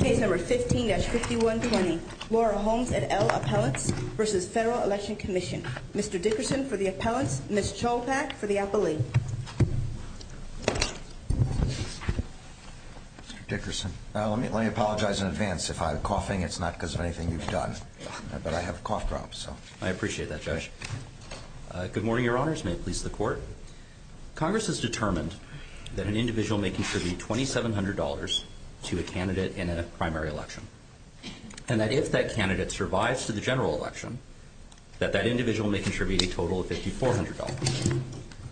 Mr. Dickerson, let me apologize in advance if I'm coughing. It's not because of anything you've done, but I have a cough drop, so I appreciate that, Judge. Good morning, Your Honors. May it please the Court. Congress has determined that an individual may contribute $2,700 to a candidate in a primary election, and that if that candidate survives to the general election, that that individual may contribute a total of $5,400.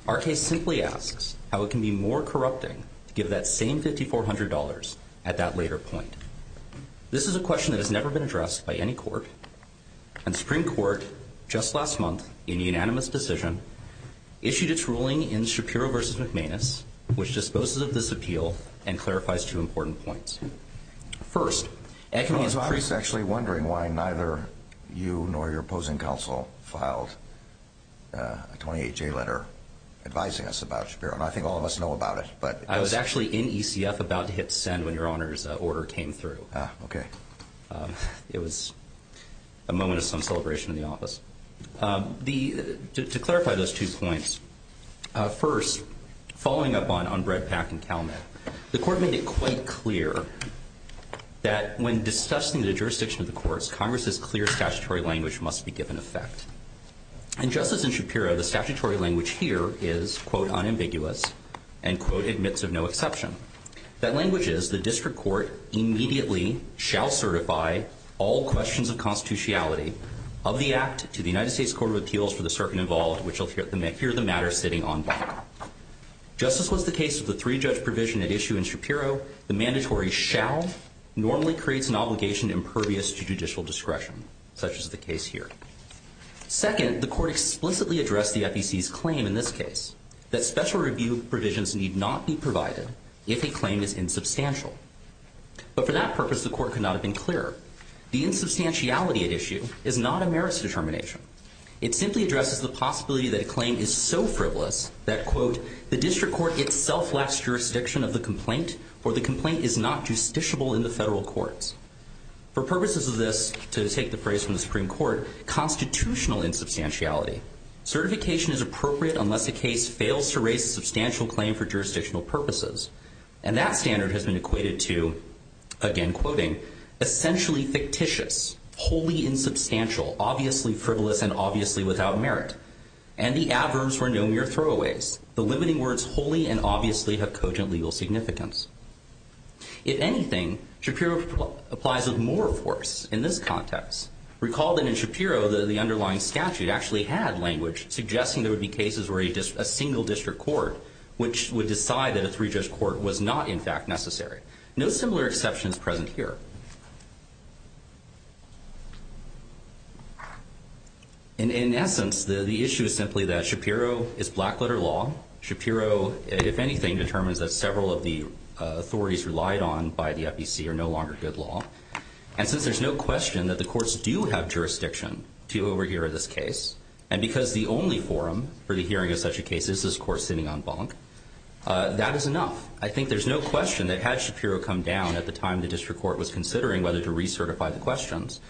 Our case simply asks how it can be more corrupting to give that same $5,400 at that later point. This is a question that has never been addressed by any court, and the Supreme Court, just last month, in a unanimous decision, issued its ruling in Shapiro v. McManus, which disposes of this appeal and clarifies two important points. First— I was actually wondering why neither you nor your opposing counsel filed a 28-J letter advising us about Shapiro, and I think all of us know about it, but— I was actually in ECF about to hit send when Your Honors' order came through. Ah, okay. It was a moment of some celebration in the office. To clarify those two points, first, following up on Brett Pack and CalMet, the Court made it quite clear that when discussing the jurisdiction of the courts, Congress's clear statutory language must be given effect. In Justice in Shapiro, the statutory language here is, quote, unambiguous, and, quote, admits of no exception. That language is, the district court immediately shall certify all questions of constitutionality of the act to the United States Court of Appeals for the circuit involved, which will hear the matter sitting en banc. Just as was the case of the three-judge provision at issue in Shapiro, the mandatory shall normally creates an obligation impervious to judicial discretion, such as the case here. Second, the Court explicitly addressed the FEC's claim in this case that special review provisions need not be provided if a claim is insubstantial. But for that purpose, the Court could not have been clearer. The insubstantiality at issue is not a merits determination. It simply addresses the possibility that a claim is so frivolous that, quote, the district court itself lacks jurisdiction of the complaint or the complaint is not justiciable in the federal courts. For purposes of this, to take the phrase from the Supreme Court, constitutional insubstantiality. Certification is appropriate unless a case fails to raise a substantial claim for jurisdictional purposes. And that standard has been equated to, again quoting, essentially fictitious, wholly insubstantial, obviously frivolous, and obviously without merit. And the adverbs were no mere throwaways. The limiting words wholly and obviously have cogent legal significance. If anything, Shapiro applies with more force in this context. Recall that in Shapiro, the underlying statute actually had language suggesting there would be cases where a single district court would decide that a three-judge court was not, in fact, necessary. No similar exception is present here. In essence, the issue is simply that Shapiro is black-letter law. Shapiro, if anything, determines that several of the authorities relied on by the FEC are no longer good law. And since there's no question that the courts do have jurisdiction to overhear this case, and because the only forum for the hearing of such a case is this court sitting on bonk, that is enough. I think there's no question that had Shapiro come down at the time the district court was considering whether to recertify the questions,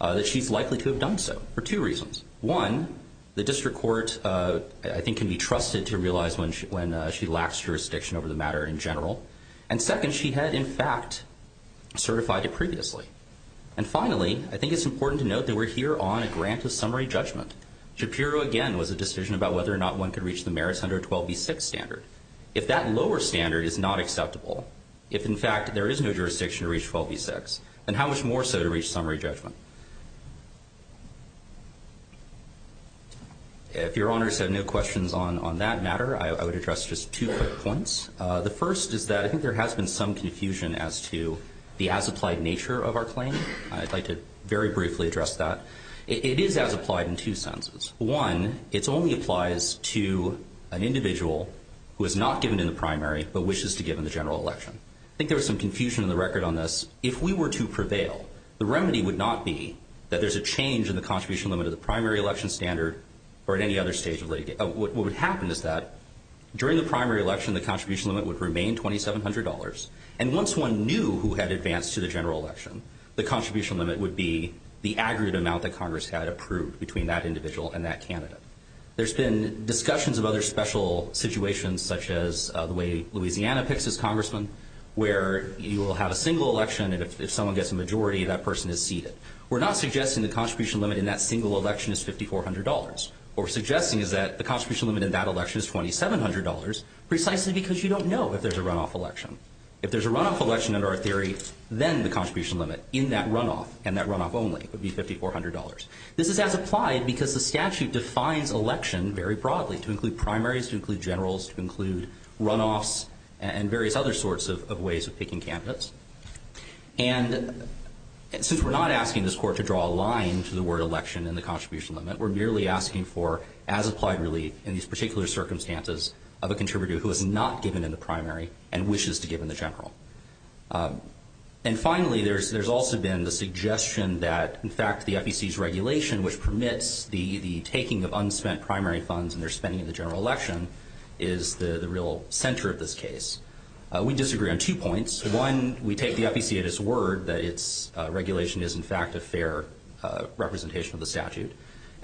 that she's likely to have done so for two reasons. One, the district court, I think, can be trusted to realize when she lacks jurisdiction over the matter in general. And second, she had, in fact, certified it previously. And finally, I think it's important to note that we're here on a grant of summary judgment. Shapiro, again, was a decision about whether or not one could reach the merits under a 12b-6 standard. If that lower standard is not acceptable, if, in fact, there is no jurisdiction to reach 12b-6, then how much more so to reach summary judgment? If Your Honors have no questions on that matter, I would address just two quick points. The first is that I think there has been some confusion as to the as-applied nature of our claim. I'd like to very briefly address that. It is as-applied in two senses. One, it only applies to an individual who is not given in the primary but wishes to give in the general election. I think there was some confusion in the record on this. If we were to prevail, the remedy would not be that there's a change in the contribution limit of the primary election standard or at any other stage of litigation. What would happen is that during the primary election, the contribution limit would remain $2,700, and once one knew who had advanced to the general election, the contribution limit would be the aggregate amount that Congress had approved between that individual and that candidate. There's been discussions of other special situations, such as the way Louisiana picks its congressman, where you will have a single election, and if someone gets a majority, that person is seated. We're not suggesting the contribution limit in that single election is $5,400. What we're suggesting is that the contribution limit in that election is $2,700 precisely because you don't know if there's a runoff election. If there's a runoff election under our theory, then the contribution limit in that runoff and that runoff only would be $5,400. This is as-applied because the statute defines election very broadly, to include primaries, to include generals, to include runoffs, and various other sorts of ways of picking candidates. And since we're not asking this Court to draw a line to the word election in the contribution limit, we're merely asking for as-applied relief in these particular circumstances of a contributor who is not given in the primary and wishes to give in the general. And finally, there's also been the suggestion that, in fact, the FEC's regulation, which permits the taking of unspent primary funds in their spending in the general election, is the real center of this case. We disagree on two points. One, we take the FEC at its word that its regulation is, in fact, a fair representation of the statute.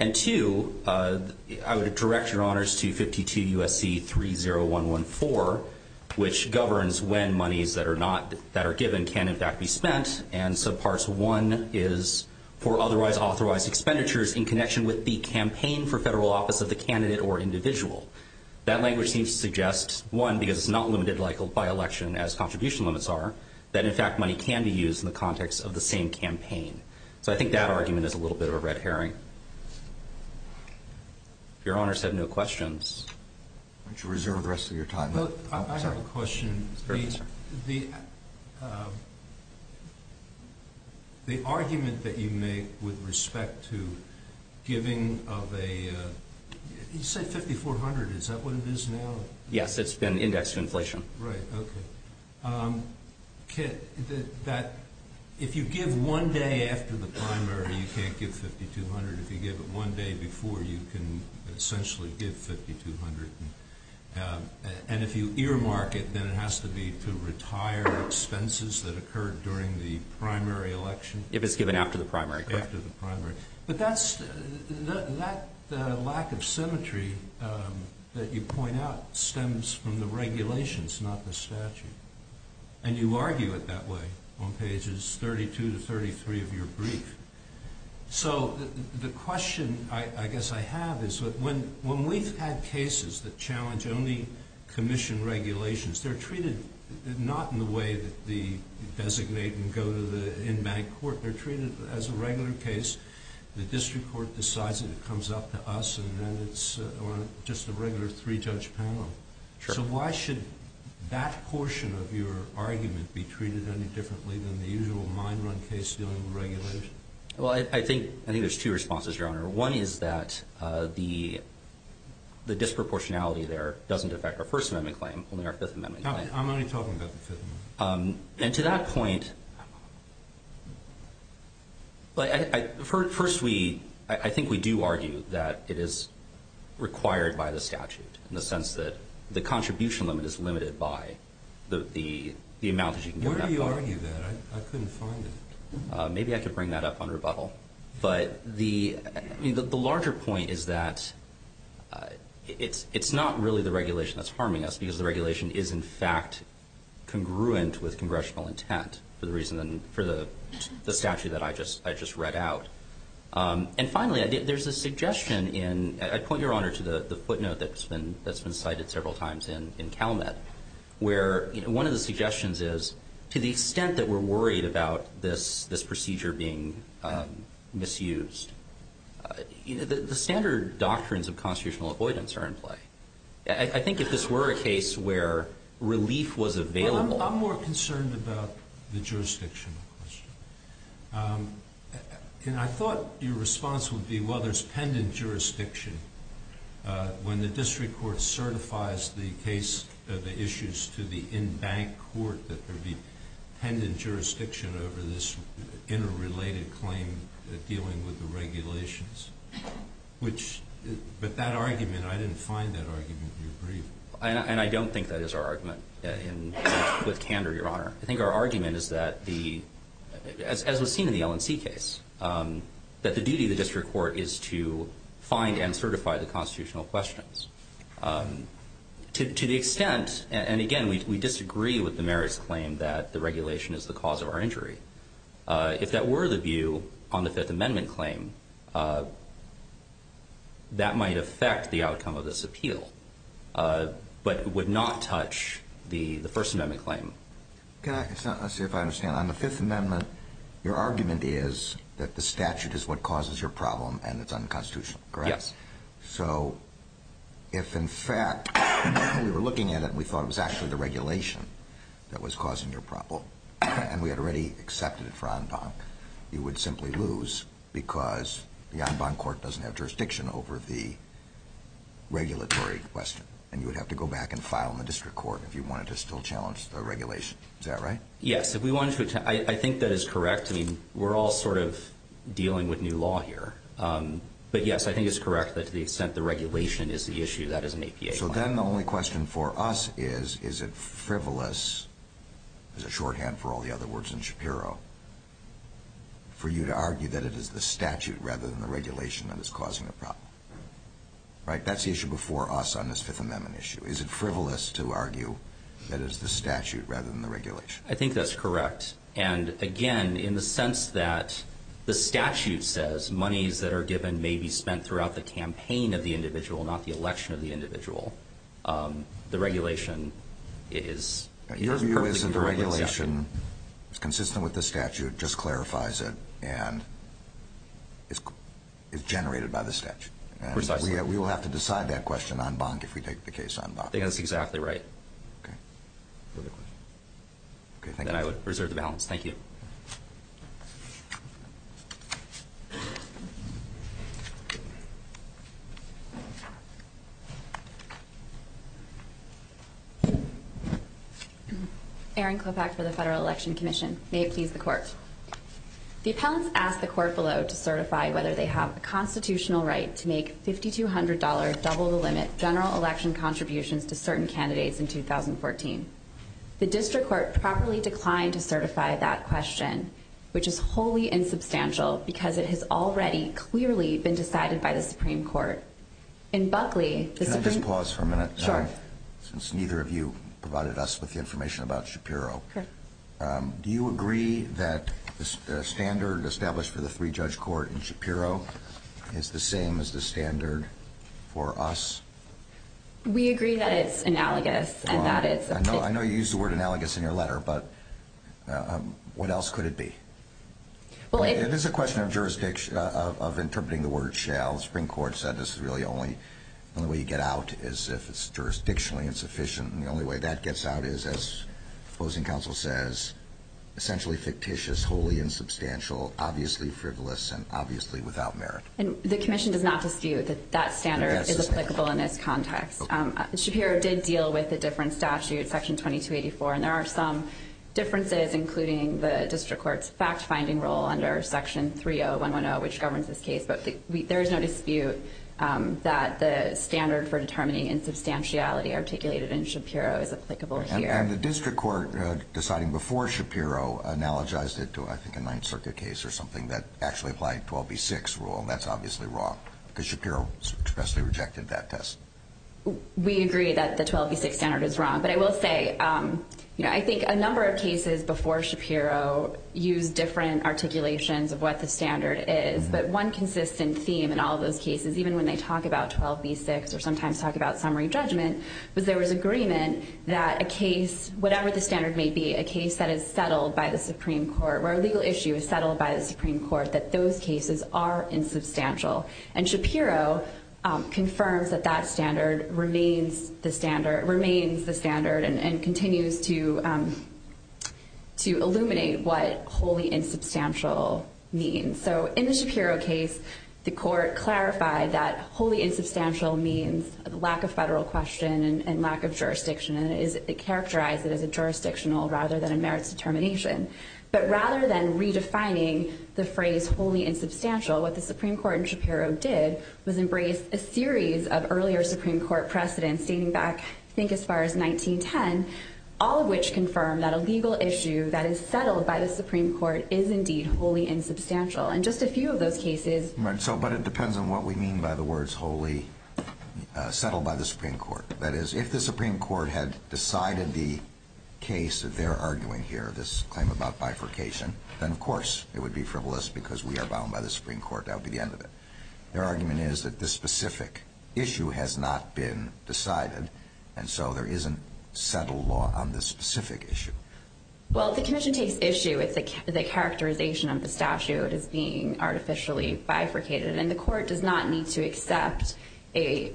And two, I would direct your honors to 52 U.S.C. 30114, which governs when monies that are given can, in fact, be spent, and subparts one is for otherwise authorized expenditures in connection with the campaign for federal office of the candidate or individual. That language seems to suggest, one, because it's not limited by election as contribution limits are, that, in fact, money can be used in the context of the same campaign. So I think that argument is a little bit of a red herring. If your honors have no questions. Why don't you reserve the rest of your time. I have a question. The argument that you make with respect to giving of a, you said 5,400. Is that what it is now? Yes, it's been indexed to inflation. Right, okay. If you give one day after the primary, you can't give 5,200. If you give it one day before, you can essentially give 5,200. And if you earmark it, then it has to be to retire expenses that occurred during the primary election. If it's given after the primary, correct. After the primary. But that lack of symmetry that you point out stems from the regulations, not the statute. And you argue it that way on pages 32 to 33 of your brief. So the question I guess I have is when we've had cases that challenge only commission regulations, they're treated not in the way that they designate and go to the in-bank court. They're treated as a regular case. The district court decides and it comes up to us and then it's just a regular three-judge panel. So why should that portion of your argument be treated any differently than the usual mine run case dealing with regulators? Well, I think there's two responses, Your Honor. One is that the disproportionality there doesn't affect our First Amendment claim, only our Fifth Amendment claim. I'm only talking about the Fifth Amendment. And to that point, first, I think we do argue that it is required by the statute, in the sense that the contribution limit is limited by the amount that you can get. Where do you argue that? I couldn't find it. Maybe I could bring that up on rebuttal. But the larger point is that it's not really the regulation that's harming us, because the regulation is, in fact, congruent with congressional intent for the reason and for the statute that I just read out. And finally, there's a suggestion in – I point, Your Honor, to the footnote that's been cited several times in CalMet, where one of the suggestions is, to the extent that we're worried about this procedure being misused, the standard doctrines of constitutional avoidance are in play. I think if this were a case where relief was available – Well, I'm more concerned about the jurisdiction question. And I thought your response would be, well, there's pendant jurisdiction. When the district court certifies the case of the issues to the in-bank court, that there be pendant jurisdiction over this interrelated claim dealing with the regulations. Which – but that argument, I didn't find that argument. Do you agree? And I don't think that is our argument, with candor, Your Honor. I think our argument is that the – as was seen in the L&C case, that the duty of the district court is to find and certify the constitutional questions. To the extent – and again, we disagree with the merits claim that the regulation is the cause of our injury. If that were the view on the Fifth Amendment claim, that might affect the outcome of this appeal, but would not touch the First Amendment claim. Can I – let's see if I understand. On the Fifth Amendment, your argument is that the statute is what causes your problem, and it's unconstitutional, correct? Yes. So if, in fact, we were looking at it and we thought it was actually the regulation that was causing your problem, and we had already accepted it for en banc, you would simply lose because the en banc court doesn't have jurisdiction over the regulatory question, and you would have to go back and file in the district court if you wanted to still challenge the regulation. Is that right? Yes. If we wanted to – I think that is correct. I mean, we're all sort of dealing with new law here. But yes, I think it's correct that to the extent the regulation is the issue, that is an APA claim. So then the only question for us is, is it frivolous – there's a shorthand for all the other words in Shapiro – for you to argue that it is the statute rather than the regulation that is causing the problem? Right? That's the issue before us on this Fifth Amendment issue. Is it frivolous to argue that it is the statute rather than the regulation? I think that's correct. And again, in the sense that the statute says monies that are given may be spent throughout the campaign of the individual, not the election of the individual, the regulation is – Your view is that the regulation is consistent with the statute, just clarifies it, and is generated by the statute? Precisely. And we will have to decide that question en banc if we take the case en banc. I think that's exactly right. Okay. Perfect question. Okay, thank you. Then I would reserve the balance. Thank you. Thank you. Erin Klopach for the Federal Election Commission. May it please the Court. The appellants asked the Court below to certify whether they have a constitutional right to make $5,200 double-the-limit general election contributions to certain candidates in 2014. The District Court properly declined to certify that question, which is wholly insubstantial because it has already clearly been decided by the Supreme Court. In Buckley, the Supreme – Can I just pause for a minute? Sure. Since neither of you provided us with the information about Shapiro. Okay. Do you agree that the standard established for the three-judge court in Shapiro is the same as the standard for us? We agree that it's analogous and that it's – I know you used the word analogous in your letter, but what else could it be? It is a question of jurisdiction – of interpreting the word shall. The Supreme Court said this is really only – the only way you get out is if it's jurisdictionally insufficient. And the only way that gets out is, as the opposing counsel says, essentially fictitious, wholly insubstantial, obviously frivolous, and obviously without merit. And the Commission does not dispute that that standard is applicable in this context. Yes, it's not. Shapiro did deal with a different statute, Section 2284, and there are some differences, including the district court's fact-finding role under Section 30110, which governs this case. But there is no dispute that the standard for determining insubstantiality articulated in Shapiro is applicable here. And the district court, deciding before Shapiro, analogized it to, I think, a Ninth Circuit case or something that actually applied 12b-6 rule. And that's obviously wrong because Shapiro expressly rejected that test. We agree that the 12b-6 standard is wrong. But I will say, you know, I think a number of cases before Shapiro used different articulations of what the standard is. But one consistent theme in all those cases, even when they talk about 12b-6 or sometimes talk about summary judgment, was there was agreement that a case, whatever the standard may be, a case that is settled by the Supreme Court, where a legal issue is settled by the Supreme Court, that those cases are insubstantial. And Shapiro confirms that that standard remains the standard and continues to illuminate what wholly insubstantial means. So in the Shapiro case, the court clarified that wholly insubstantial means lack of federal question and lack of jurisdiction. And it characterized it as a jurisdictional rather than a merits determination. But rather than redefining the phrase wholly insubstantial, what the Supreme Court in Shapiro did was embrace a series of earlier Supreme Court precedents dating back, I think, as far as 1910, all of which confirmed that a legal issue that is settled by the Supreme Court is indeed wholly insubstantial. And just a few of those cases... But it depends on what we mean by the words wholly settled by the Supreme Court. That is, if the Supreme Court had decided the case that they're arguing here, this claim about bifurcation, then, of course, it would be frivolous because we are bound by the Supreme Court. That would be the end of it. Their argument is that this specific issue has not been decided, and so there isn't settled law on this specific issue. Well, if the commission takes issue with the characterization of the statute as being artificially bifurcated, then the court does not need to accept a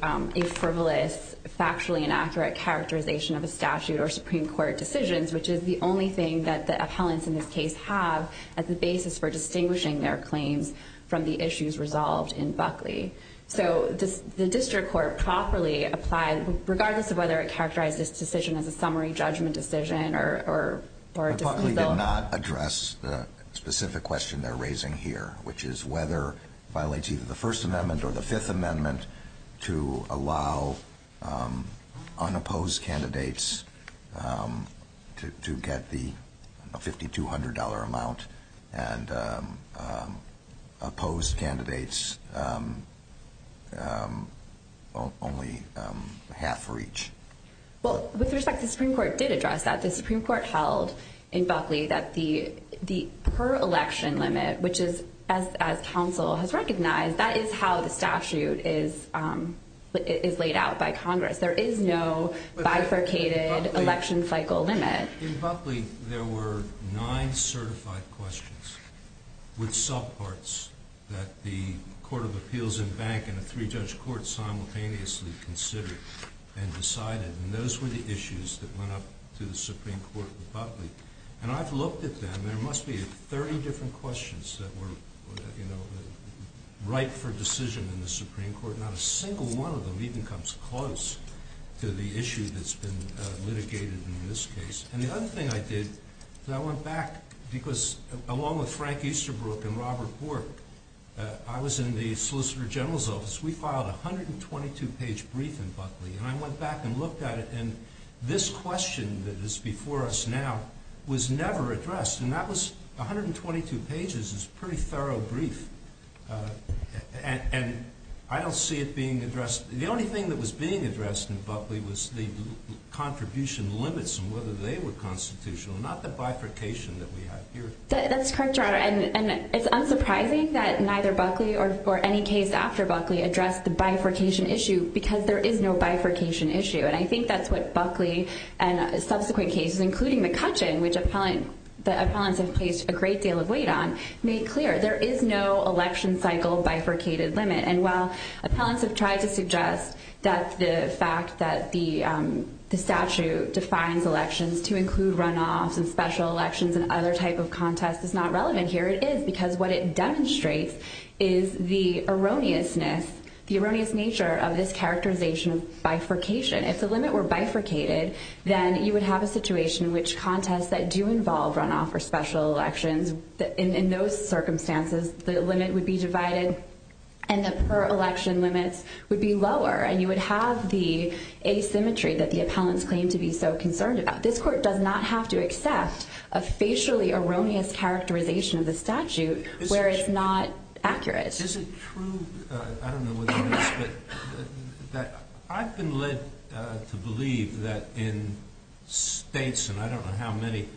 frivolous, factually inaccurate characterization of a statute or Supreme Court decisions, which is the only thing that the appellants in this case have as the basis for distinguishing their claims from the issues resolved in Buckley. So the district court properly applied, regardless of whether it characterized this decision as a summary judgment decision or a dis- Buckley did not address the specific question they're raising here, which is whether it violates either the First Amendment or the Fifth Amendment to allow unopposed candidates to get the $5,200 amount and opposed candidates only half for each. Well, with respect, the Supreme Court did address that. The Supreme Court held in Buckley that the per-election limit, which is, as counsel has recognized, that is how the statute is laid out by Congress. There is no bifurcated election cycle limit. In Buckley, there were nine certified questions with subparts that the Court of Appeals and Bank and a three-judge court simultaneously considered and decided. And those were the issues that went up to the Supreme Court in Buckley. And I've looked at them. There must be 30 different questions that were, you know, right for decision in the Supreme Court. Not a single one of them even comes close to the issue that's been litigated in this case. And the other thing I did is I went back, because along with Frank Easterbrook and Robert Bork, I was in the Solicitor General's office. We filed a 122-page brief in Buckley, and I went back and looked at it, and this question that is before us now was never addressed, and that was 122 pages. It's a pretty thorough brief, and I don't see it being addressed. The only thing that was being addressed in Buckley was the contribution limits and whether they were constitutional, not the bifurcation that we have here. That's correct, Your Honor. And it's unsurprising that neither Buckley or any case after Buckley addressed the bifurcation issue because there is no bifurcation issue. And I think that's what Buckley and subsequent cases, including the Cutchin, which the appellants have placed a great deal of weight on, made clear. There is no election cycle bifurcated limit. And while appellants have tried to suggest that the fact that the statute defines elections to include runoffs and special elections and other type of contests is not relevant here, it is because what it demonstrates is the erroneous nature of this characterization of bifurcation. If the limit were bifurcated, then you would have a situation in which contests that do involve runoff or special elections, in those circumstances, the limit would be divided and the per-election limits would be lower, and you would have the asymmetry that the appellants claim to be so concerned about. This Court does not have to accept a facially erroneous characterization of the statute where it's not accurate. Is it true, I don't know whether it is, but I've been led to believe that in states, and I don't know how many,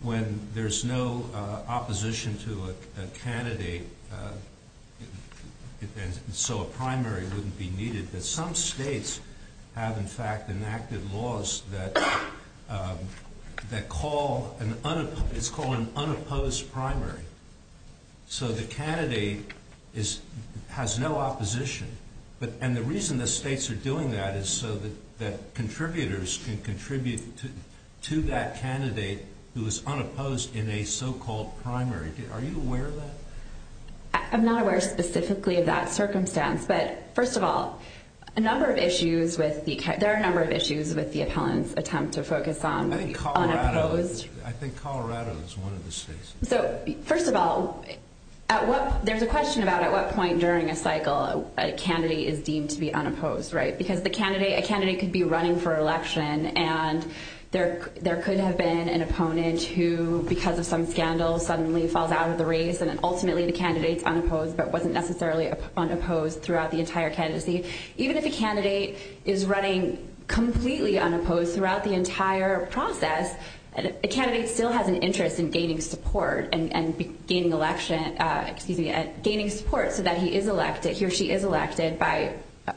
when there's no opposition to a candidate, and so a primary wouldn't be needed, but some states have, in fact, enacted laws that call, it's called an unopposed primary. So the candidate has no opposition, and the reason the states are doing that is so that contributors can contribute to that candidate who is unopposed in a so-called primary. Are you aware of that? I'm not aware specifically of that circumstance, but first of all, there are a number of issues with the appellant's attempt to focus on the unopposed. I think Colorado is one of the states. So first of all, there's a question about at what point during a cycle a candidate is deemed to be unopposed, right? Because a candidate could be running for election, and there could have been an opponent who, because of some scandal, suddenly falls out of the race, and then ultimately the candidate's unopposed but wasn't necessarily unopposed throughout the entire candidacy. Even if a candidate is running completely unopposed throughout the entire process, a candidate still has an interest in gaining support so that he is elected, he or she is elected by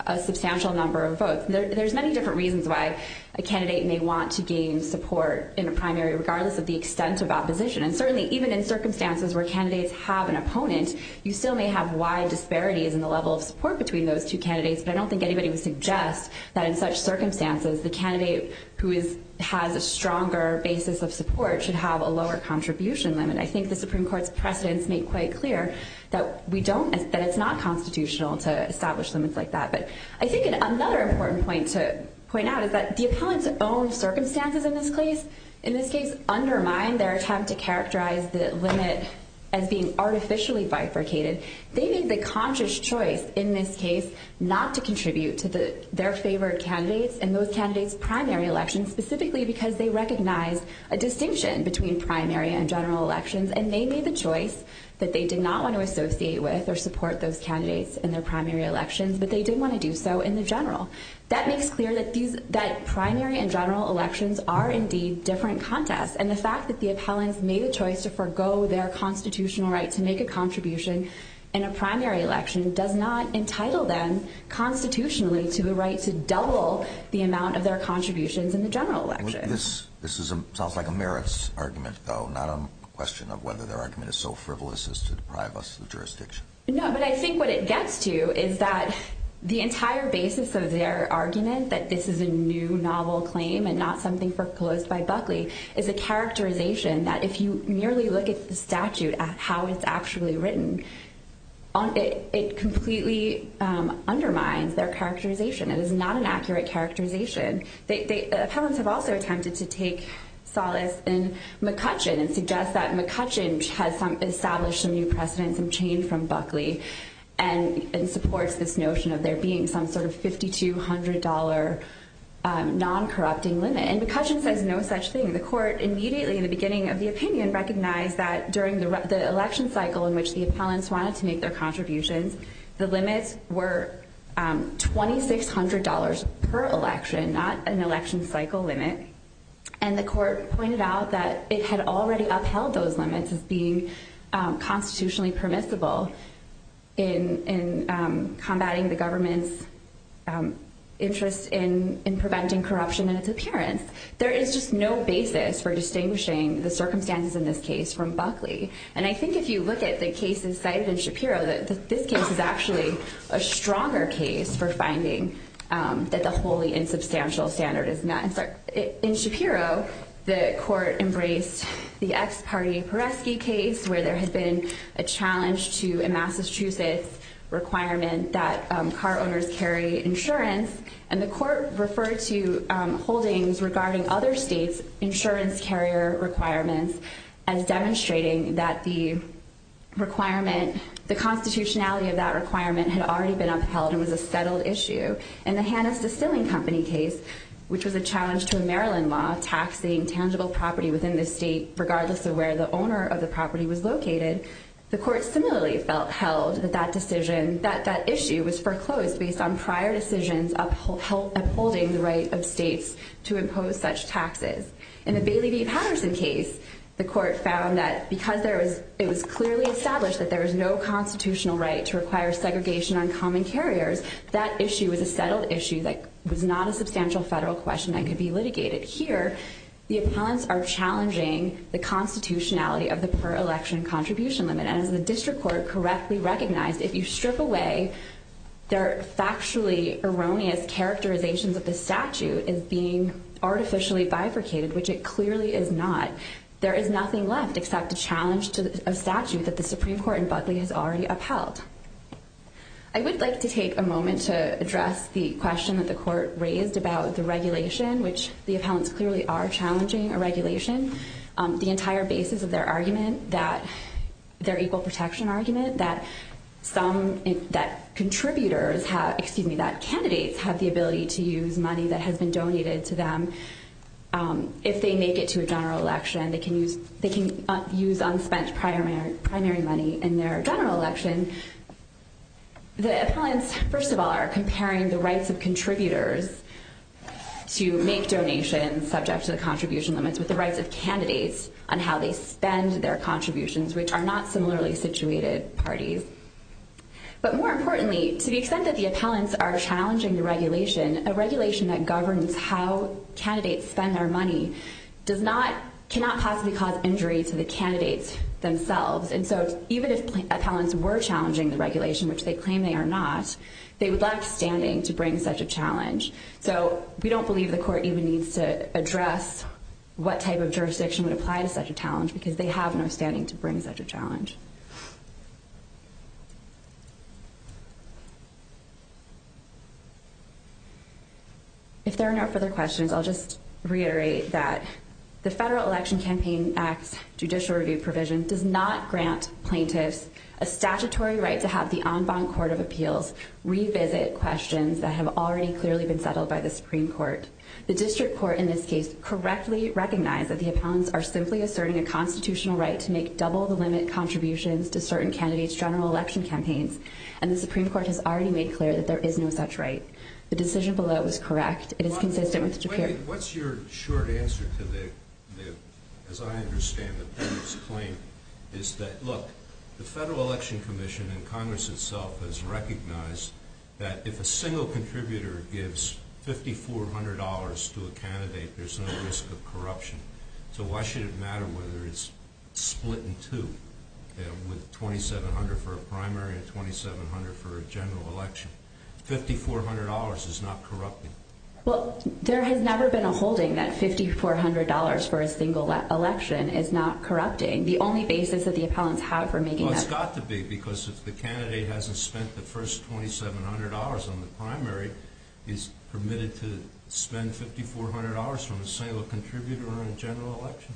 a substantial number of votes. There's many different reasons why a candidate may want to gain support in a primary, regardless of the extent of opposition. And certainly, even in circumstances where candidates have an opponent, you still may have wide disparities in the level of support between those two candidates, but I don't think anybody would suggest that in such circumstances, the candidate who has a stronger basis of support should have a lower contribution limit. I think the Supreme Court's precedents make quite clear that it's not constitutional to establish limits like that. But I think another important point to point out is that the appellant's own circumstances in this case undermine their attempt to characterize the limit as being artificially bifurcated. They made the conscious choice in this case not to contribute to their favorite candidates in those candidates' primary elections, specifically because they recognize a distinction between primary and general elections, and they made the choice that they did not want to associate with or support those candidates in their primary elections, but they did want to do so in the general. That makes clear that primary and general elections are, indeed, different contests, and the fact that the appellants made the choice to forego their constitutional right to make a contribution in a primary election does not entitle them constitutionally to the right to double the amount of their contributions in the general election. This sounds like a merits argument, though, not a question of whether their argument is so frivolous as to deprive us of jurisdiction. No, but I think what it gets to is that the entire basis of their argument that this is a new novel claim and not something proposed by Buckley is a characterization that if you merely look at the statute, how it's actually written, it completely undermines their characterization. It is not an accurate characterization. The appellants have also attempted to take solace in McCutcheon and suggest that McCutcheon has established some new precedent, some change from Buckley, and supports this notion of there being some sort of $5,200 non-corrupting limit. And McCutcheon says no such thing. The court immediately, in the beginning of the opinion, recognized that during the election cycle in which the appellants wanted to make their contributions, the limits were $2,600 per election, not an election cycle limit. And the court pointed out that it had already upheld those limits as being constitutionally permissible in combating the government's interest in preventing corruption in its appearance. There is just no basis for distinguishing the circumstances in this case from Buckley. And I think if you look at the cases cited in Shapiro, this case is actually a stronger case for finding that the wholly insubstantial standard is met. In Shapiro, the court embraced the ex-party Peresky case, where there had been a challenge to a Massachusetts requirement that car owners carry insurance. And the court referred to holdings regarding other states' insurance carrier requirements as demonstrating that the requirement, the constitutionality of that requirement, had already been upheld and was a settled issue. In the Hanna's Distilling Company case, which was a challenge to a Maryland law taxing tangible property within the state regardless of where the owner of the property was located, the court similarly held that that issue was foreclosed based on prior decisions upholding the right of states to impose such taxes. In the Bailey v. Patterson case, the court found that because it was clearly established that there was no constitutional right to require segregation on common carriers, that issue was a settled issue that was not a substantial federal question that could be litigated. Here, the appellants are challenging the constitutionality of the per-election contribution limit. And as the district court correctly recognized, if you strip away their factually erroneous characterizations of the statute as being artificially bifurcated, which it clearly is not, there is nothing left except a challenge to a statute that the Supreme Court in Buckley has already upheld. I would like to take a moment to address the question that the court raised about the regulation, which the appellants clearly are challenging a regulation. The entire basis of their argument, their equal protection argument, that contributors, excuse me, that candidates have the ability to use money that has been donated to them if they make it to a general election. They can use unspent primary money in their general election. The appellants, first of all, are comparing the rights of contributors to make donations subject to the contribution limits with the rights of candidates on how they spend their contributions, which are not similarly situated parties. But more importantly, to the extent that the appellants are challenging the regulation, a regulation that governs how candidates spend their money cannot possibly cause injury to the candidates themselves. And so even if appellants were challenging the regulation, which they claim they are not, they would lack standing to bring such a challenge. So we don't believe the court even needs to address what type of jurisdiction would apply to such a challenge because they have no standing to bring such a challenge. If there are no further questions, I'll just reiterate that the Federal Election Campaign Act's judicial review provision does not grant plaintiffs a statutory right to have the en banc court of appeals revisit questions that have already clearly been settled by the Supreme Court. The district court in this case correctly recognized that the appellants are simply asserting a constitutional right to make double-the-limit contributions to certain candidates' general election campaigns, and the Supreme Court has already made clear that there is no such right. The decision below is correct. It is consistent with the judicial review provision. Wait a minute. What's your short answer to the, as I understand the plaintiff's claim, is that, look, the Federal Election Commission and Congress itself has recognized that if a single contributor gives $5,400 to a candidate, there's no risk of corruption. So why should it matter whether it's split in two with $2,700 for a primary and $2,700 for a general election? $5,400 is not corrupting. Well, there has never been a holding that $5,400 for a single election is not corrupting. The only basis that the appellants have for making that... is permitted to spend $5,400 from a single contributor on a general election.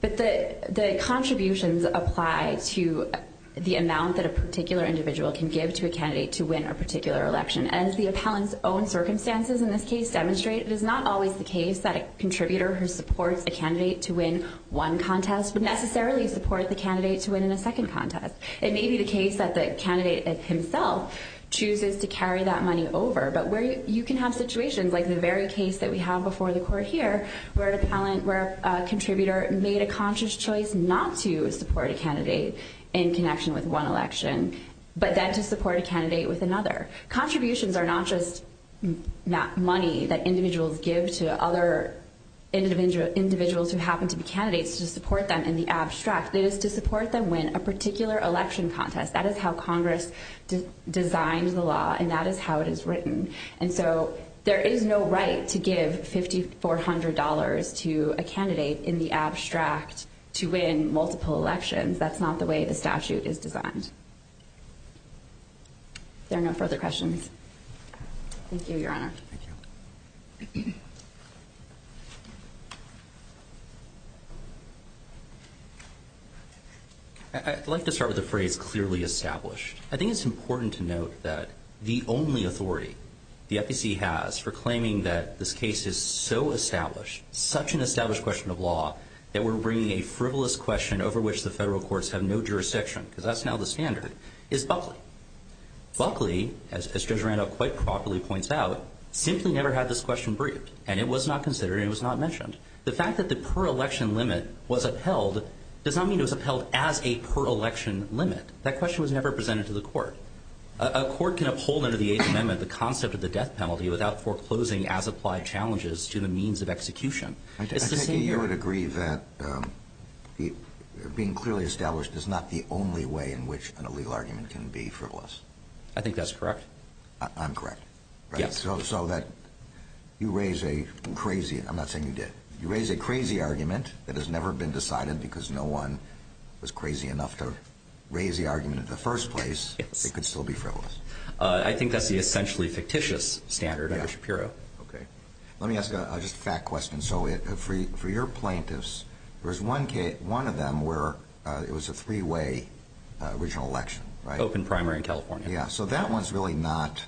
But the contributions apply to the amount that a particular individual can give to a candidate to win a particular election. As the appellants' own circumstances in this case demonstrate, it is not always the case that a contributor who supports a candidate to win one contest would necessarily support the candidate to win in a second contest. It may be the case that the candidate himself chooses to carry that money over, but you can have situations like the very case that we have before the court here where a contributor made a conscious choice not to support a candidate in connection with one election, but then to support a candidate with another. Contributions are not just money that individuals give to other individuals who happen to be candidates to support them in the abstract. It is to support them win a particular election contest. That is how Congress designed the law, and that is how it is written. And so there is no right to give $5,400 to a candidate in the abstract to win multiple elections. That's not the way the statute is designed. Are there no further questions? Thank you, Your Honor. Thank you. I'd like to start with a phrase, clearly established. I think it's important to note that the only authority the FEC has for claiming that this case is so established, such an established question of law, that we're bringing a frivolous question over which the federal courts have no jurisdiction, Buckley, as Judge Randolph quite properly points out, simply never had this question briefed, and it was not considered and it was not mentioned. The fact that the per-election limit was upheld does not mean it was upheld as a per-election limit. That question was never presented to the court. A court can uphold under the Eighth Amendment the concept of the death penalty without foreclosing as applied challenges to the means of execution. I take it you would agree that being clearly established is not the only way in which an illegal argument can be frivolous. I think that's correct. I'm correct. Yes. So that you raise a crazy, I'm not saying you did, you raise a crazy argument that has never been decided because no one was crazy enough to raise the argument in the first place, it could still be frivolous. I think that's the essentially fictitious standard under Shapiro. Okay. Let me ask just a fact question. So for your plaintiffs, there was one of them where it was a three-way regional election, right? Open primary in California. Yeah. So that one's really not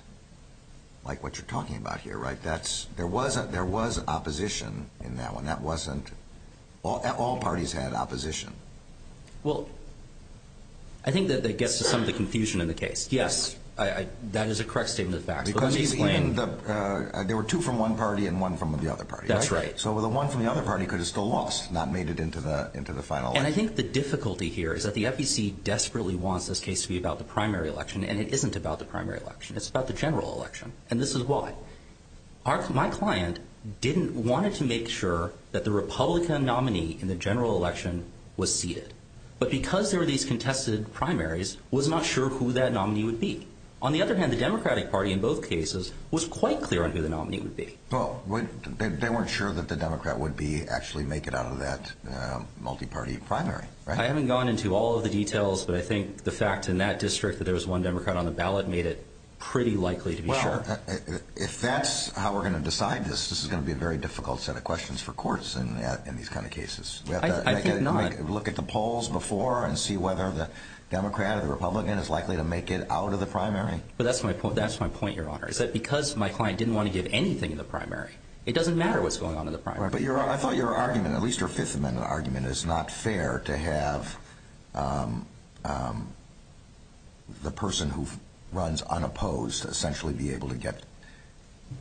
like what you're talking about here, right? There was opposition in that one. That wasn't, all parties had opposition. Well, I think that that gets to some of the confusion in the case. Yes, that is a correct statement of facts. There were two from one party and one from the other party. That's right. So the one from the other party could have still lost, not made it into the final election. And I think the difficulty here is that the FEC desperately wants this case to be about the primary election, and it isn't about the primary election. It's about the general election, and this is why. My client wanted to make sure that the Republican nominee in the general election was seated, but because there were these contested primaries, was not sure who that nominee would be. On the other hand, the Democratic Party in both cases was quite clear on who the nominee would be. Well, they weren't sure that the Democrat would actually make it out of that multi-party primary, right? I haven't gone into all of the details, but I think the fact in that district that there was one Democrat on the ballot made it pretty likely to be sure. Well, if that's how we're going to decide this, this is going to be a very difficult set of questions for courts in these kind of cases. I think not. Do you want to look at the polls before and see whether the Democrat or the Republican is likely to make it out of the primary? That's my point, Your Honor, is that because my client didn't want to give anything in the primary, it doesn't matter what's going on in the primary. I thought your argument, at least your Fifth Amendment argument, is not fair to have the person who runs unopposed essentially be able to get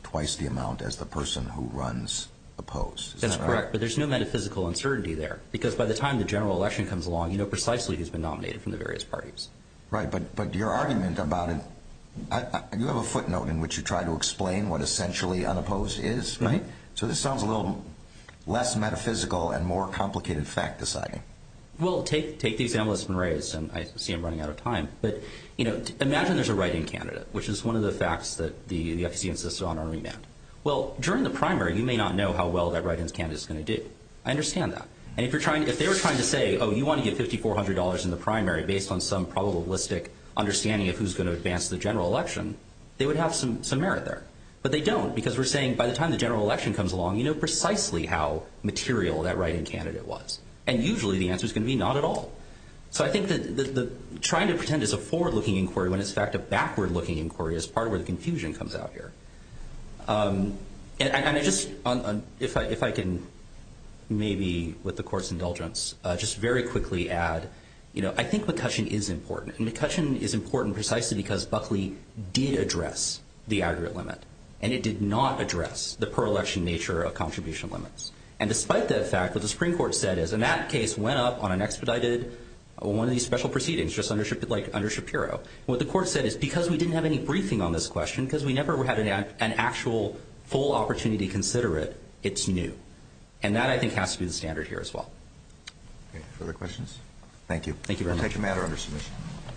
twice the amount as the person who runs opposed. That's correct, but there's no metaphysical uncertainty there because by the time the general election comes along, you know precisely who's been nominated from the various parties. Right, but your argument about it, you have a footnote in which you try to explain what essentially unopposed is, right? Right. So this sounds a little less metaphysical and more complicated fact deciding. Well, take the example that's been raised, and I see I'm running out of time, but imagine there's a write-in candidate, which is one of the facts that the FCC insisted on on remand. Well, during the primary, you may not know how well that write-in candidate is going to do. I understand that, and if they were trying to say, oh, you want to get $5,400 in the primary based on some probabilistic understanding of who's going to advance the general election, they would have some merit there, but they don't because we're saying by the time the general election comes along, you know precisely how material that write-in candidate was, and usually the answer's going to be not at all. So I think that trying to pretend it's a forward-looking inquiry when it's in fact a backward-looking inquiry is part of where the confusion comes out here. And I just, if I can maybe, with the Court's indulgence, just very quickly add, you know, I think McCutcheon is important, and McCutcheon is important precisely because Buckley did address the aggregate limit, and it did not address the per-election nature of contribution limits. And despite that fact, what the Supreme Court said is, and that case went up on an expedited, one of these special proceedings, just like under Shapiro. What the Court said is because we didn't have any briefing on this question, because we never had an actual full opportunity to consider it, it's new. And that, I think, has to be the standard here as well. Okay. Further questions? Thank you. Thank you very much. We'll take a matter under submission.